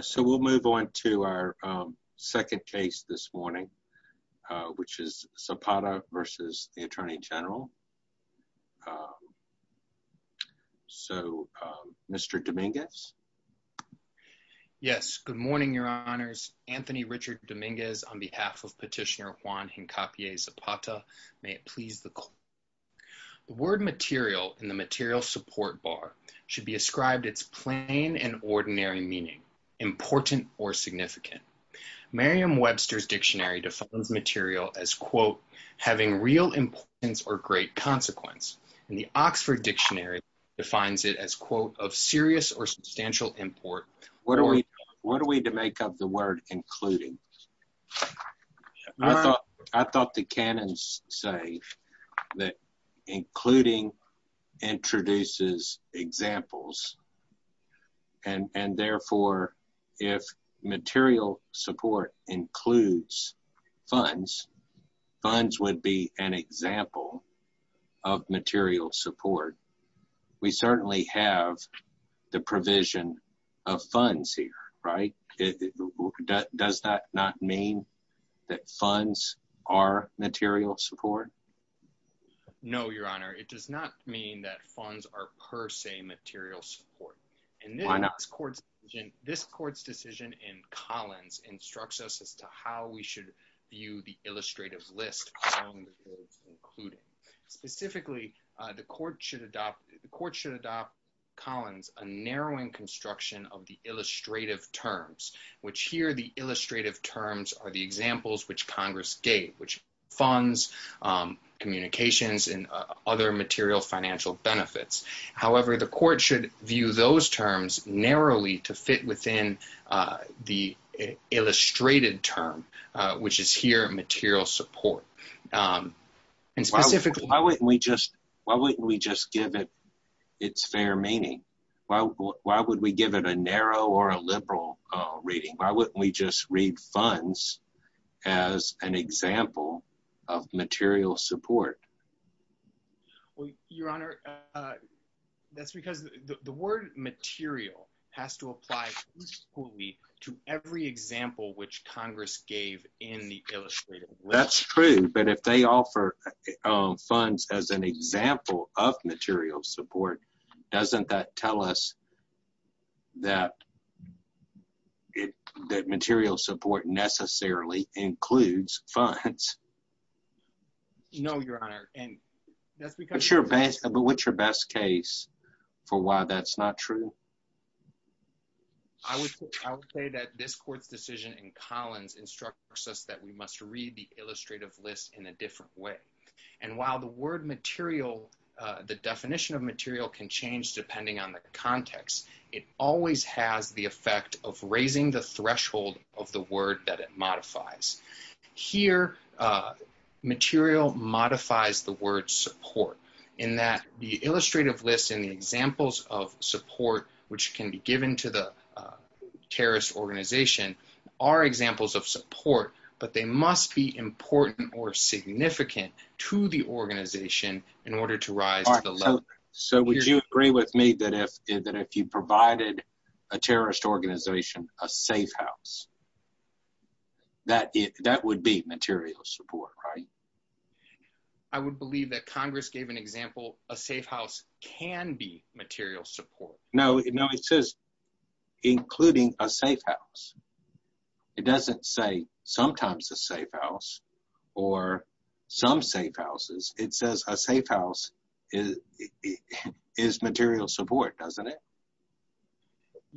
so we'll move on to our second case this morning which is Zapata v. the Attorney General so Mr. Dominguez yes good morning Your Honors Anthony Richard Dominguez on behalf of petitioner Juan Hincapié Zapata may it please the court. The word material in the material support bar should be meaning important or significant. Merriam-Webster's dictionary defines material as quote having real importance or great consequence and the Oxford Dictionary defines it as quote of serious or substantial import. What are we what are we to make up the word including? I thought I thought the for if material support includes funds funds would be an example of material support. We certainly have the provision of funds here right it does that not mean that funds are material support? No Your Honor it does not mean that funds are per se material support. Why not? This court's decision in Collins instructs us as to how we should view the illustrative list specifically the court should adopt the court should adopt Collins a narrowing construction of the illustrative terms which here the illustrative terms are the examples which Congress gave which funds communications and other material financial benefits. However the court should view those terms narrowly to fit within the illustrated term which is here material support and specifically why wouldn't we just why wouldn't we just give it its fair meaning? Why would we give it a narrow or a liberal reading? Why wouldn't we just read funds as an that's because the word material has to apply to every example which Congress gave in the illustrative. That's true but if they offer funds as an example of material support doesn't that tell us that that material support necessarily includes funds? No Your Honor. But what's your best case for why that's not true? I would say that this court's decision in Collins instructs us that we must read the illustrative list in a different way and while the word material the definition of material can change depending on the context it always has the effect of raising the threshold of the word that it modifies. Here material modifies the word support in that the illustrative list in the examples of support which can be given to the terrorist organization are examples of support but they must be important or significant to the organization in order to rise to the level. So would you agree with me that if you provided a terrorist organization a safe house that that would be material support right? I would believe that Congress gave an example a safe house can be material support. No it says including a safe house. It doesn't say sometimes a safe house or some safe houses it says a safe house is material support doesn't it?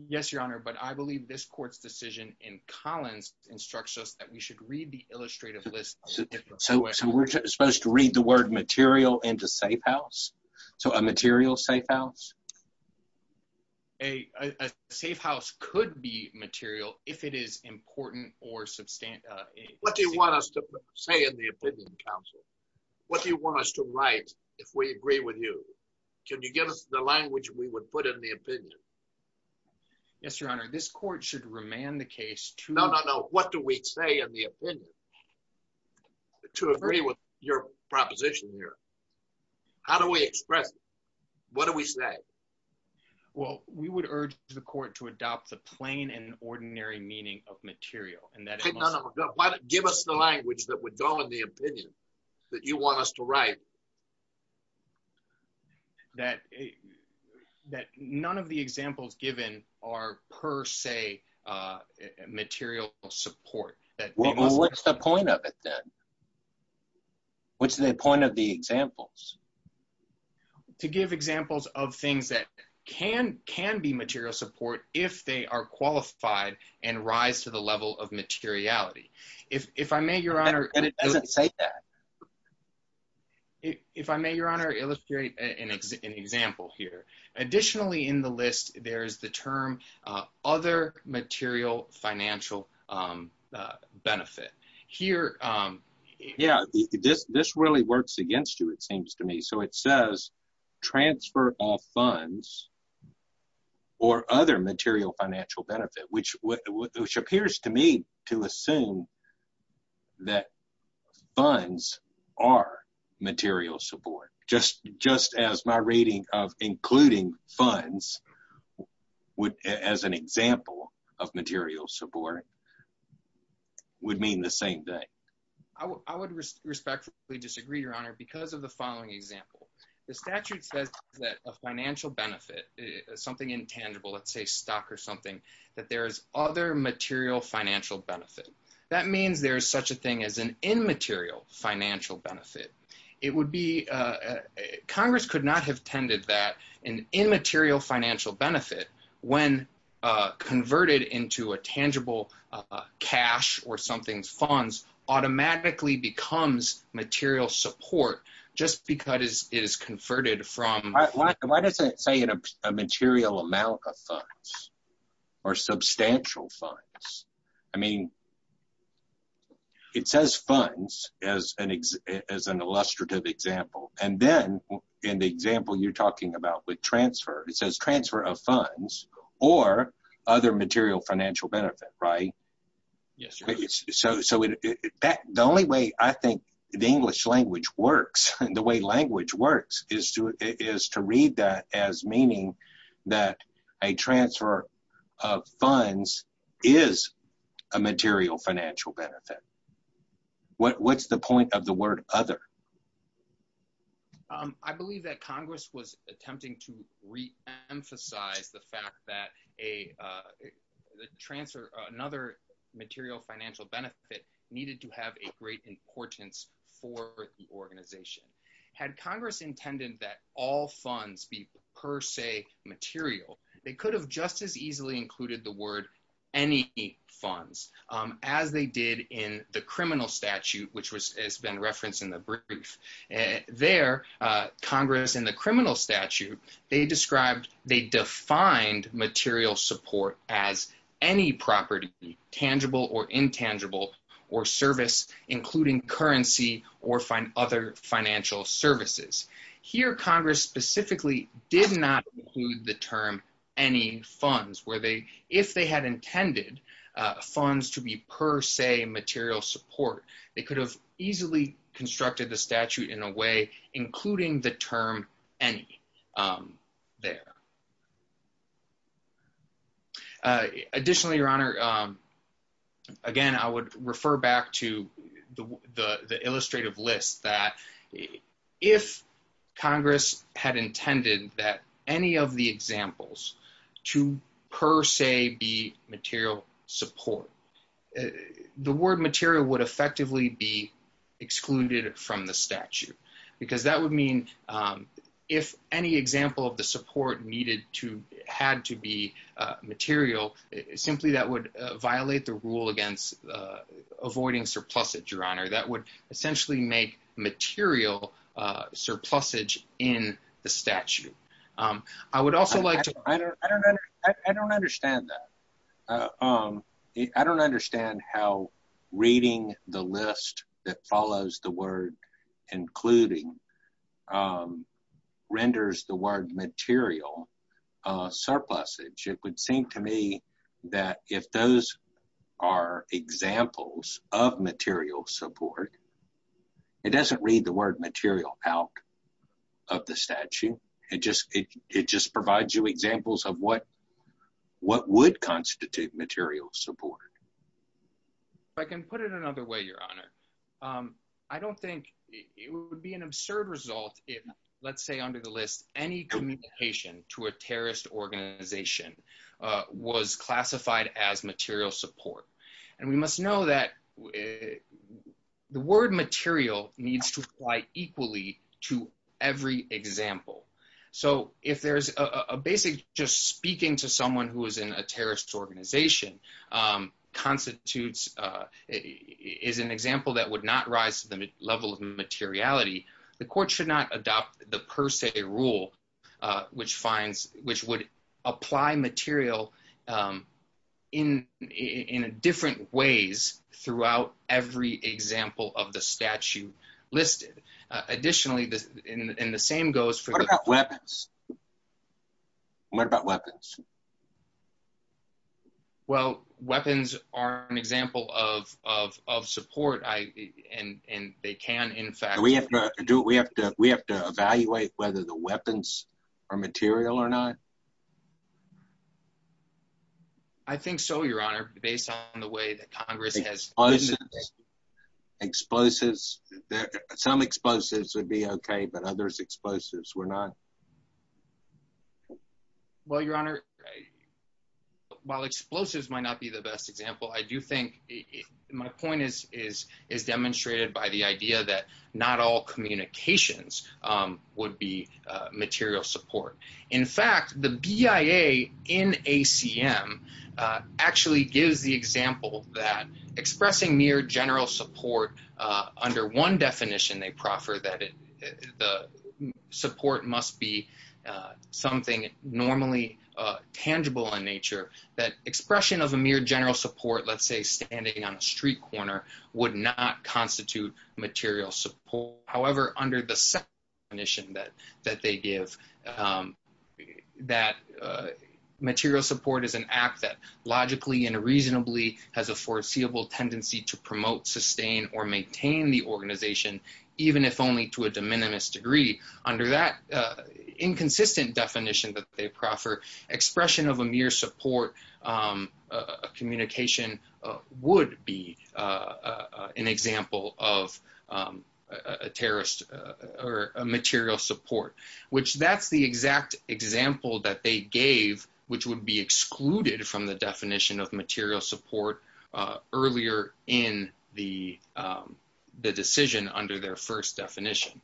Yes Your Honor but I believe this court's decision in Collins instructs us that we should read the illustrative list. So we're supposed to read the word material into safe house? So a material safe house? A safe house could be material if it is important or substantial. What do you want us to say in the opinion council? What do you want us to write if we agree with you? Can you give us the language we would put in the opinion? Yes Your Honor this court should remand the case. No no no what do we say in the opinion to agree with your proposition here? How do we express it? What do we say? Well we would urge the court to adopt the plain and ordinary meaning of material. Give us the that none of the examples given are per se material support. What's the point of it then? What's the point of the examples? To give examples of things that can can be material support if they are qualified and rise to the level of materiality. If I may Your Honor. And it doesn't say that. If I may Your Honor illustrate an example here. Additionally in the list there is the term other material financial benefit. Here yeah this this really works against you it seems to me. So it says transfer all funds or other material financial benefit which which appears to me to assume that funds are material support. Just just as my reading of including funds would as an example of material support would mean the same thing. I would respectfully disagree Your Honor because of the following example. The statute says that a financial benefit something intangible let's say stock or something that there's other material financial benefit. That means there's such a thing as an immaterial financial benefit. It would be Congress could not have tended that an immaterial financial benefit when converted into a tangible cash or something's funds automatically becomes material support just because it is converted from. Why does it say in a material amount of funds or substantial funds. I mean it says funds as an as an illustrative example and then in the example you're talking about with transfer it says transfer of funds or other material financial benefit right. Yes so so in fact the only way I think the English language works and the way language works is to is to read that as meaning that a transfer of funds is a material financial benefit. What what's the point of the word other? I believe that Congress was attempting to reemphasize the fact that a transfer another material financial benefit needed to have a great importance for the organization. Had Congress intended that all funds be per se material they could have just as easily included the word any funds as they did in the criminal statute which was has been referenced in the brief. There Congress in the criminal statute they described they defined material support as any property tangible or intangible or service including currency or find other financial services. Here Congress specifically did not include the term any funds where they if they had intended funds to be per se material support they could have easily constructed the statute in a way including the term any there. Additionally your honor again I would refer back to the the illustrative list that if Congress had intended that any of the examples to per se be material support the word material would effectively be excluded from the statute because that would mean if any example of the support needed to had to be material simply that would violate the rule against avoiding surplus it your honor that would essentially make material surplus age in the statute. I would also like to I don't understand that I don't understand how reading the list that follows the word including renders the word material surplus it would seem to me that if those are examples of material support it doesn't read the word material out of the would constitute material support. I can put it another way your honor I don't think it would be an absurd result if let's say under the list any communication to a terrorist organization was classified as material support and we must know that the word material needs to apply equally to every example. So if there's a basic just speaking to someone who is in a terrorist organization constitutes is an example that would not rise to the level of materiality the court should not adopt the per se rule which finds which would apply material in in a different ways throughout every example of the statute listed. Additionally this in the same goes for what about weapons what about weapons? Well weapons are an example of of support I and and they can in fact we have to do we have to we have to evaluate whether the weapons are material or not. I think so your honor based on the way that Congress has exposes some explosives would be okay but others explosives we're not. Well your honor while explosives might not be the best example I do think my point is is is demonstrated by the idea that not all communications would be material support. In fact the BIA in ACM actually gives the example that expressing mere general support under one definition they proffer that the support must be something normally tangible in nature that expression of a mere general support let's say standing on a street corner would not constitute material support however under the second definition that that they give that material support is an act that logically and reasonably has a foreseeable tendency to promote sustain or maintain the organization even if only to a de minimis degree under that inconsistent definition that they a terrorist or a material support which that's the exact example that they gave which would be excluded from the definition of material support earlier in the the decision under their first definition.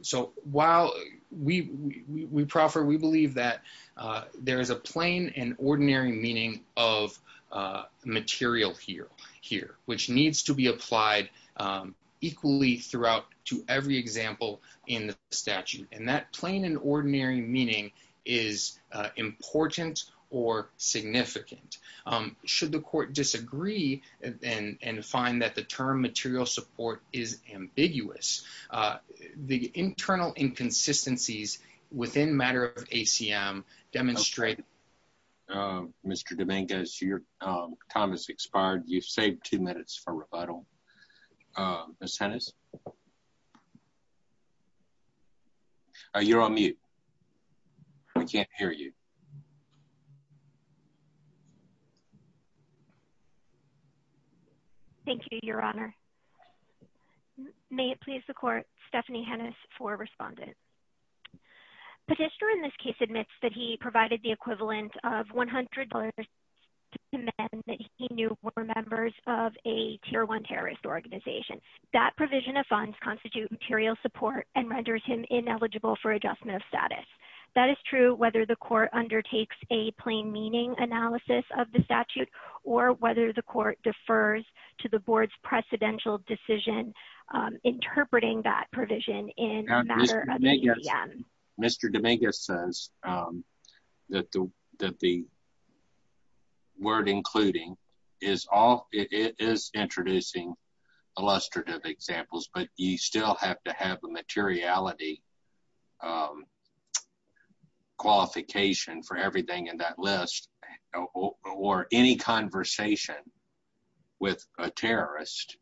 So while we we proffer we believe that there is a plain and ordinary meaning of material here here which needs to be applied equally throughout to every example in the statute and that plain and ordinary meaning is important or significant should the court disagree and find that the term material support is ambiguous the internal inconsistencies within matter of ACM demonstrate. Mr. Dominguez your time has expired you've saved two minutes for rebuttal. Ms. Hennis you're on mute I can't hear you. Thank you your honor may it please the court Stephanie Hennis for respondent. Petitioner in this case admits that he provided the men that he knew were members of a tier one terrorist organization that provision of funds constitute material support and renders him ineligible for adjustment of status. That is true whether the court undertakes a plain meaning analysis of the statute or whether the court defers to the board's word including is all it is introducing illustrative examples but you still have to have a materiality qualification for everything in that list or any conversation with a terrorist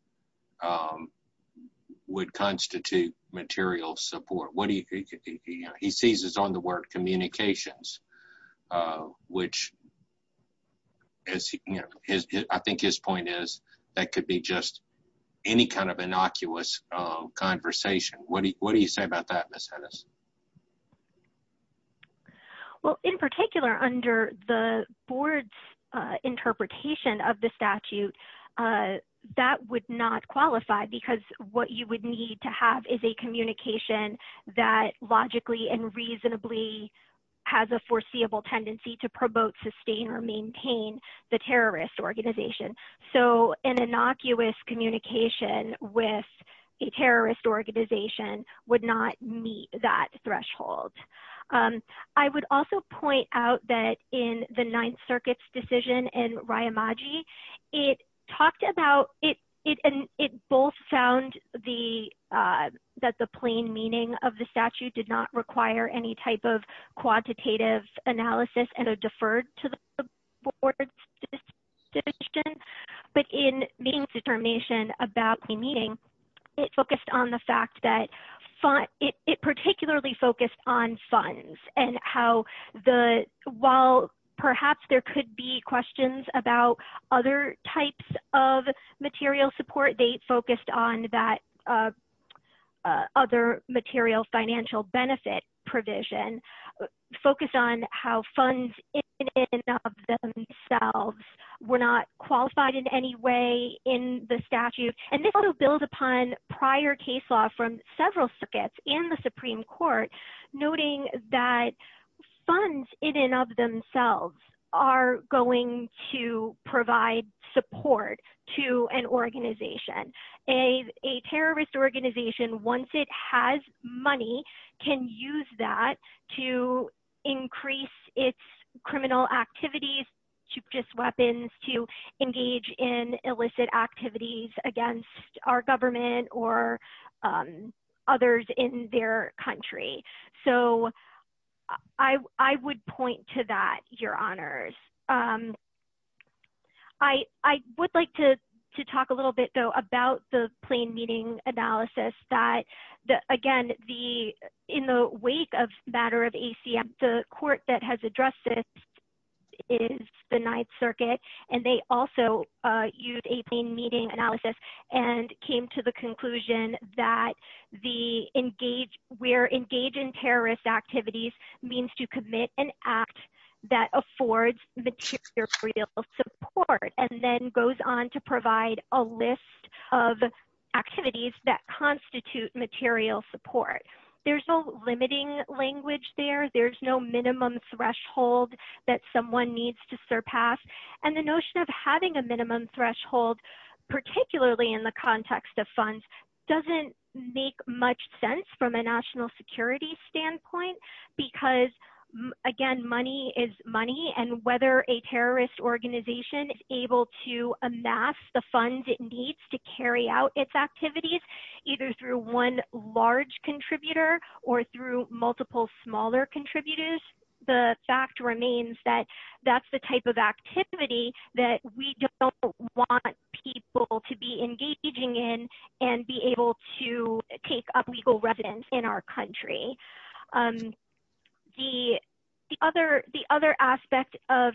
would constitute material support. What do you he seizes on the word communications which is I think his point is that could be just any kind of innocuous conversation what do you say about that Ms. Hennis? Well in particular under the board's interpretation of the statute that would not qualify because what you would need to have is a communication that logically and reasonably has a foreseeable tendency to promote sustain or maintain the terrorist organization so an innocuous communication with a terrorist organization would not meet that threshold. I would also point out that in the Ninth Circuit's decision in Ryamaji it talked about it and it both found the that the plain meaning of the statute did not require any type of quantitative analysis and a deferred to the board's decision but in meetings determination about a meeting it focused on the fact that fun it particularly focused on funds and how the while perhaps there could be questions about other types of material support they focused on that other material financial benefit provision focused on how funds were not qualified in any way in the statute and this will build upon prior case law from several circuits in the to an organization. A terrorist organization once it has money can use that to increase its criminal activities to purchase weapons to engage in illicit activities against our government or others in their country so I I would point to that your honors. I would like to to talk a little bit though about the plain meaning analysis that the again the in the wake of matter of ACM the court that has addressed this is the Ninth Circuit and they also used a plain meaning analysis and came to the conclusion that the engage where engage in terrorist activities means to commit an act that affords material support and then goes on to provide a list of activities that constitute material support. There's no limiting language there there's no minimum threshold that someone needs to surpass and the notion of having a minimum threshold particularly in the context of funds doesn't make much sense from a national security standpoint because again money is money and whether a terrorist organization is able to amass the funds it needs to carry out its activities either through one large contributor or through multiple smaller contributors the fact remains that that's the type of activity that we don't want people to be the other the other aspect of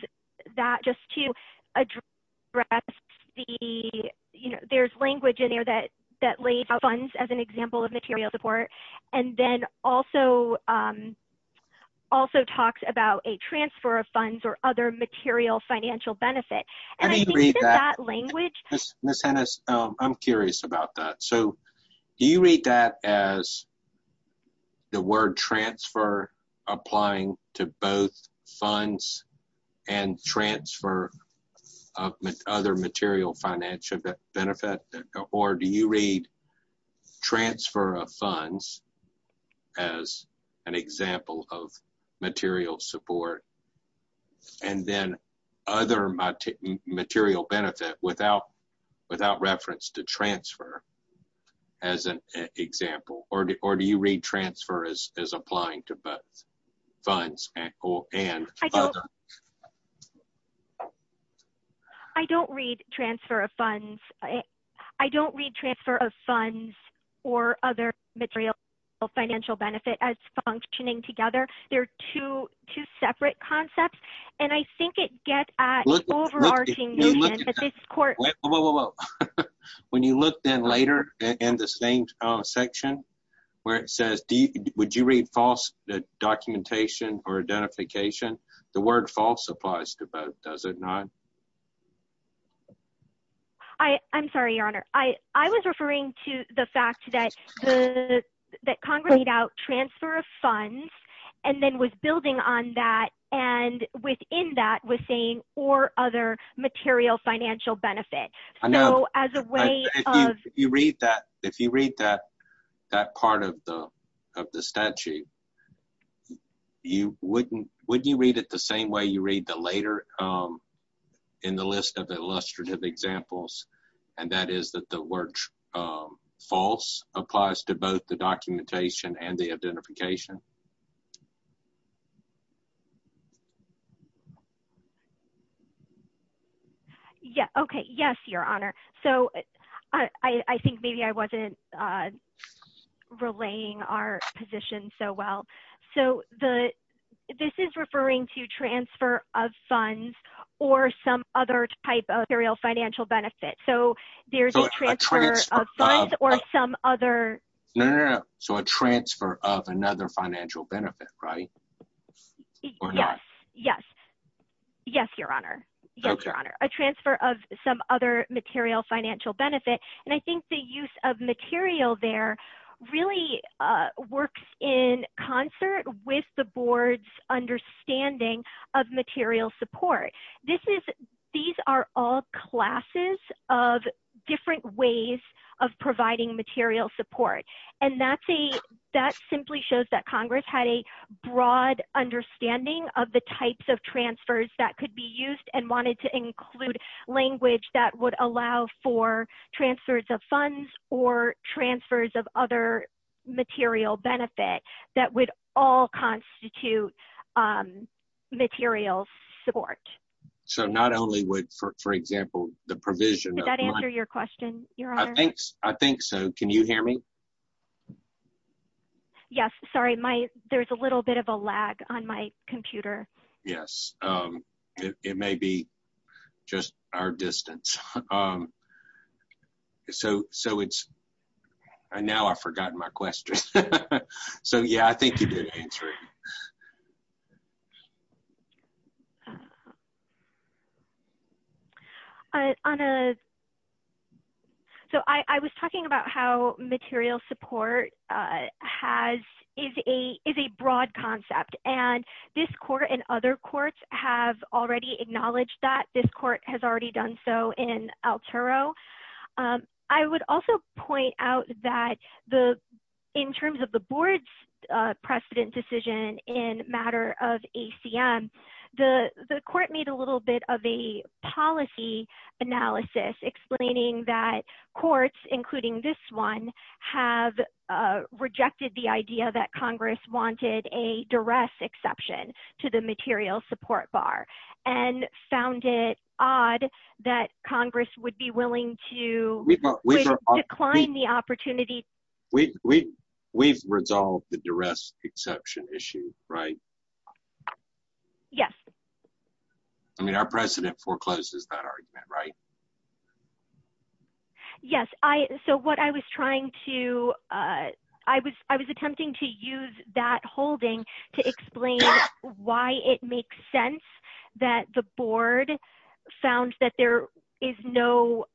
that just to address the you know there's language in there that that lays out funds as an example of material support and then also also talks about a transfer of funds or other material financial benefit. Ms. Hennis I'm curious about that so do you read that as the word transfer applying to both funds and transfer of other material financial benefit or do you read transfer of funds as an example of material support and then other material benefit without without reference to transfer as an example or do you read transfer as applying to both funds? I don't read transfer of funds I don't read transfer of funds or other material financial benefit as functioning together they're two two separate concepts and I think it gets at overarching when you look then later in the same section where it says deep would you read false the documentation or identification the word false applies to both does it not? I I'm sorry your honor I I was referring to the fact that that congregate out transfer of funds and then was building on that and within that was saying or other material financial benefit. I know as a way you read that if you read that that part of the of the statute you wouldn't wouldn't you read it the same way you read the later in the list of examples and that is that the word false applies to both the documentation and the identification. Yeah okay yes your honor so I think maybe I wasn't relaying our position so well so the this is referring to transfer of funds or some other type of aerial financial benefit so there's a transfer of funds or some other yeah so a transfer of another financial benefit right? Yes yes yes your honor yes your honor a transfer of some other material financial benefit and I think the use of material there really works in concert with the board's understanding of material support. This is these are all classes of different ways of providing material support and that's a that simply shows that Congress had a broad understanding of the types of transfers that could be used and wanted to include language that would allow for transfers of funds or transfers of other material benefit that would all constitute material support. So not only would for example the provision that answer your question your honor? I think so can you hear me? Yes sorry my there's a little bit of a computer. Yes it may be just our distance so so it's now I forgotten my question so yeah I think you did answer it. So I was talking about how material support has is a is a broad concept and this court and other courts have already acknowledged that this court has already done so in Alturo. I would also point out that the in terms of the board's precedent decision in matter of ACM the the court made a little bit of a policy analysis explaining that courts including this one have rejected the idea that Congress wanted a duress exception to the material support bar and found it odd that Congress would be willing to decline the opportunity. We we've resolved the duress exception issue right? Yes. I mean our president forecloses that right? Yes I so what I was trying to I was I was attempting to use that holding to explain why it makes sense that the board found that there is no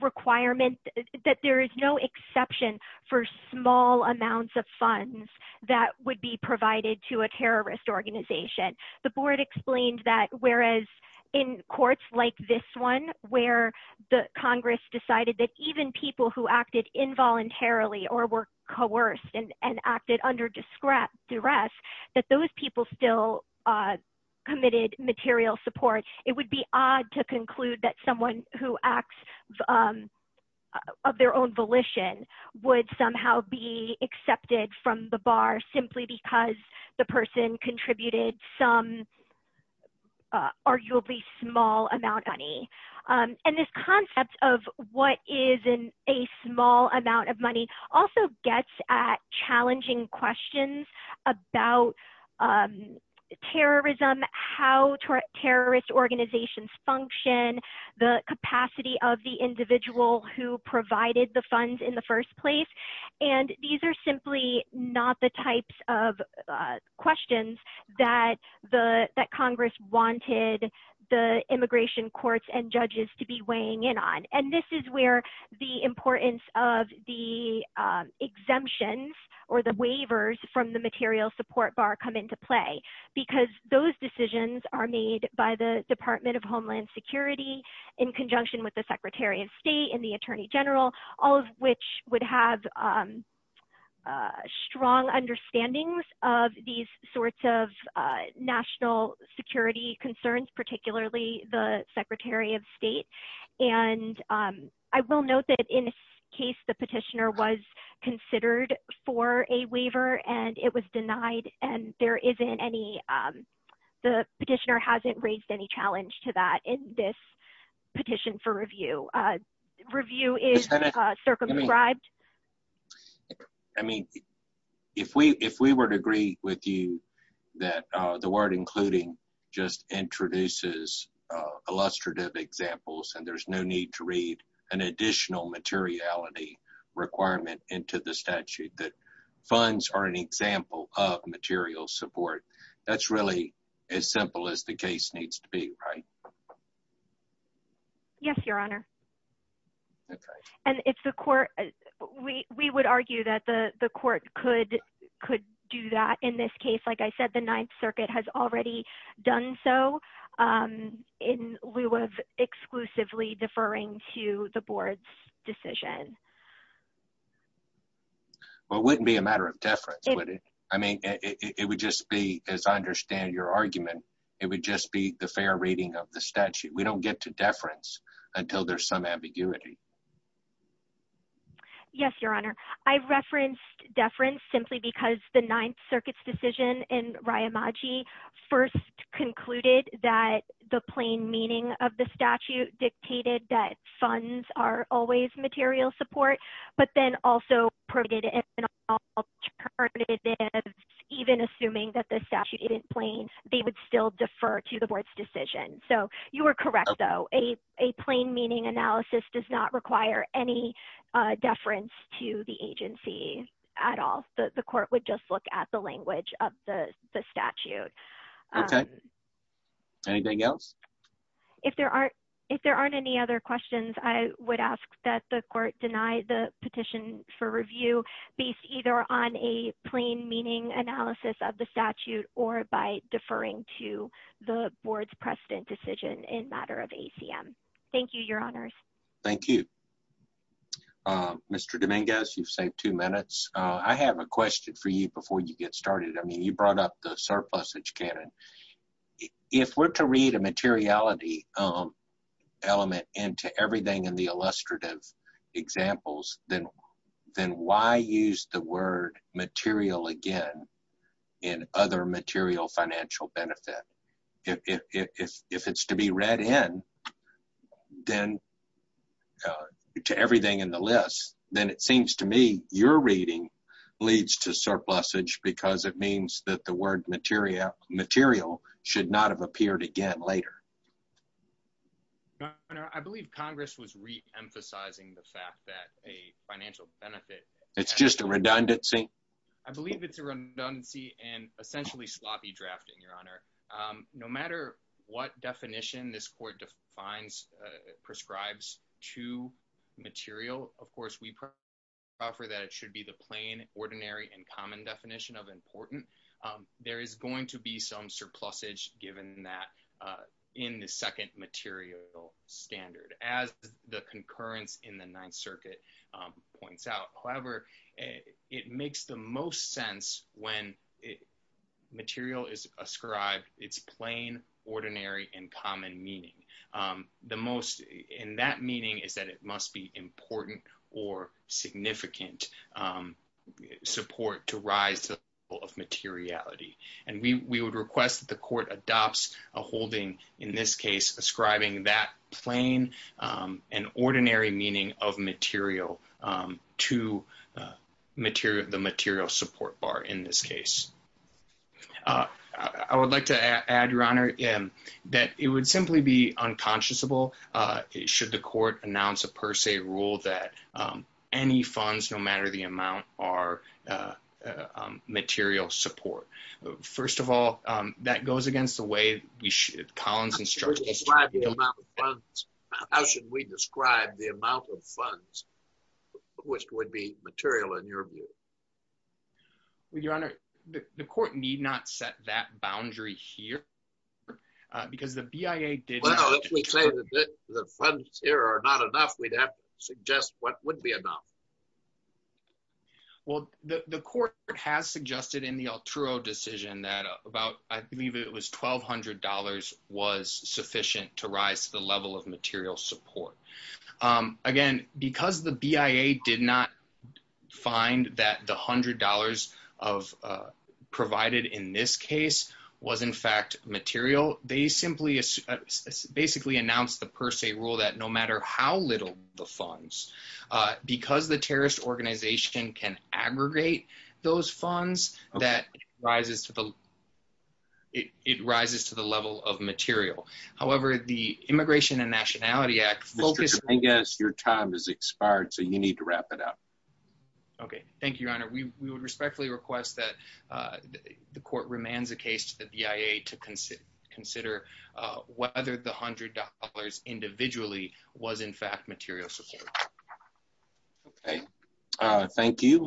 requirement that there is no exception for small amounts of funds that would be provided to a terrorist organization. The board explained that whereas in courts like this one where the Congress decided that even people who acted involuntarily or were coerced and acted under duress that those people still committed material support it would be odd to conclude that someone who acts of their own volition would somehow be accepted from the bar simply because the and this concept of what is in a small amount of money also gets at challenging questions about terrorism, how terrorist organizations function, the capacity of the individual who provided the funds in the first place and these are simply not the types of questions that the that Congress wanted the immigration courts and judges to be weighing in on and this is where the importance of the exemptions or the waivers from the material support bar come into play because those decisions are made by the Department of Homeland Security in conjunction with the Secretary of State and the Attorney General all of which have strong understandings of these sorts of national security concerns particularly the Secretary of State and I will note that in this case the petitioner was considered for a waiver and it was denied and there isn't any the petitioner hasn't raised any challenge to that in this petition for I mean if we if we were to agree with you that the word including just introduces illustrative examples and there's no need to read an additional materiality requirement into the statute that funds are an example of material support that's really as simple as the case needs to be right yes your honor and if the court we would argue that the the court could could do that in this case like I said the Ninth Circuit has already done so in lieu of exclusively deferring to the board's decision well wouldn't be a matter of deference I mean it would just be as I understand your argument it would just be the fair reading of the statute we don't get to deference until there's some ambiguity yes your honor I've referenced deference simply because the Ninth Circuit's decision in Riyamaji first concluded that the plain meaning of the statute dictated that funds are always material support but then also provided an alternative even assuming that the statute isn't plain they would still defer to the board's decision so you were correct though a a plain meaning analysis does not require any deference to the agency at all the court would just look at the language of the statute okay anything else if there aren't if there aren't any other questions I would ask that the court deny the petition for review based either on a plain meaning analysis of the statute or by deferring to the board's precedent decision in matter of ACM thank you your honors thank you mr. Dominguez you've saved two minutes I have a question for you before you get started I mean you brought up the surplusage canon if we're to read a materiality element into everything in the illustrative examples then then why use the word material again in other material financial benefit if it's to be read in then to everything in the list then it seems to me your reading leads to surplusage because it means that the word material material should not have appeared again later I believe Congress was re-emphasizing the fact it's just a redundancy I believe it's a redundancy and essentially sloppy drafting your honor no matter what definition this court defines prescribes to material of course we prefer that it should be the plain ordinary and common definition of important there is going to be some surplus age given that in the standard as the concurrence in the Ninth Circuit points out however it makes the most sense when material is ascribed it's plain ordinary and common meaning the most in that meaning is that it must be important or significant support to rise of materiality and we would request that the court adopts a holding in this case ascribing that plain and ordinary meaning of material to material the material support bar in this case I would like to add your honor in that it would simply be unconscionable should the court announce a per se rule that any funds no matter the amount are material support first of all that goes against the way we should Collins instructions how should we describe the amount of funds which would be material in your view with your honor the court need not set that boundary here because the BIA did the funds here are not enough we'd have to suggest what would be enough well the court has suggested in the Alturo decision that about I believe it was $1,200 was sufficient to rise to the level of material support again because the BIA did not find that the hundred dollars of provided in this case was in fact material they simply basically announced the per se rule that no matter how little the funds because the terrorist organization can aggregate those funds that rises to the it rises to the level of material however the Immigration and Nationality Act focus I guess your time is expired so you need to wrap it up okay thank you your honor we would respectfully request that the court remains a case to the BIA to consider consider whether the hundred dollars individually was in fact material support okay thank you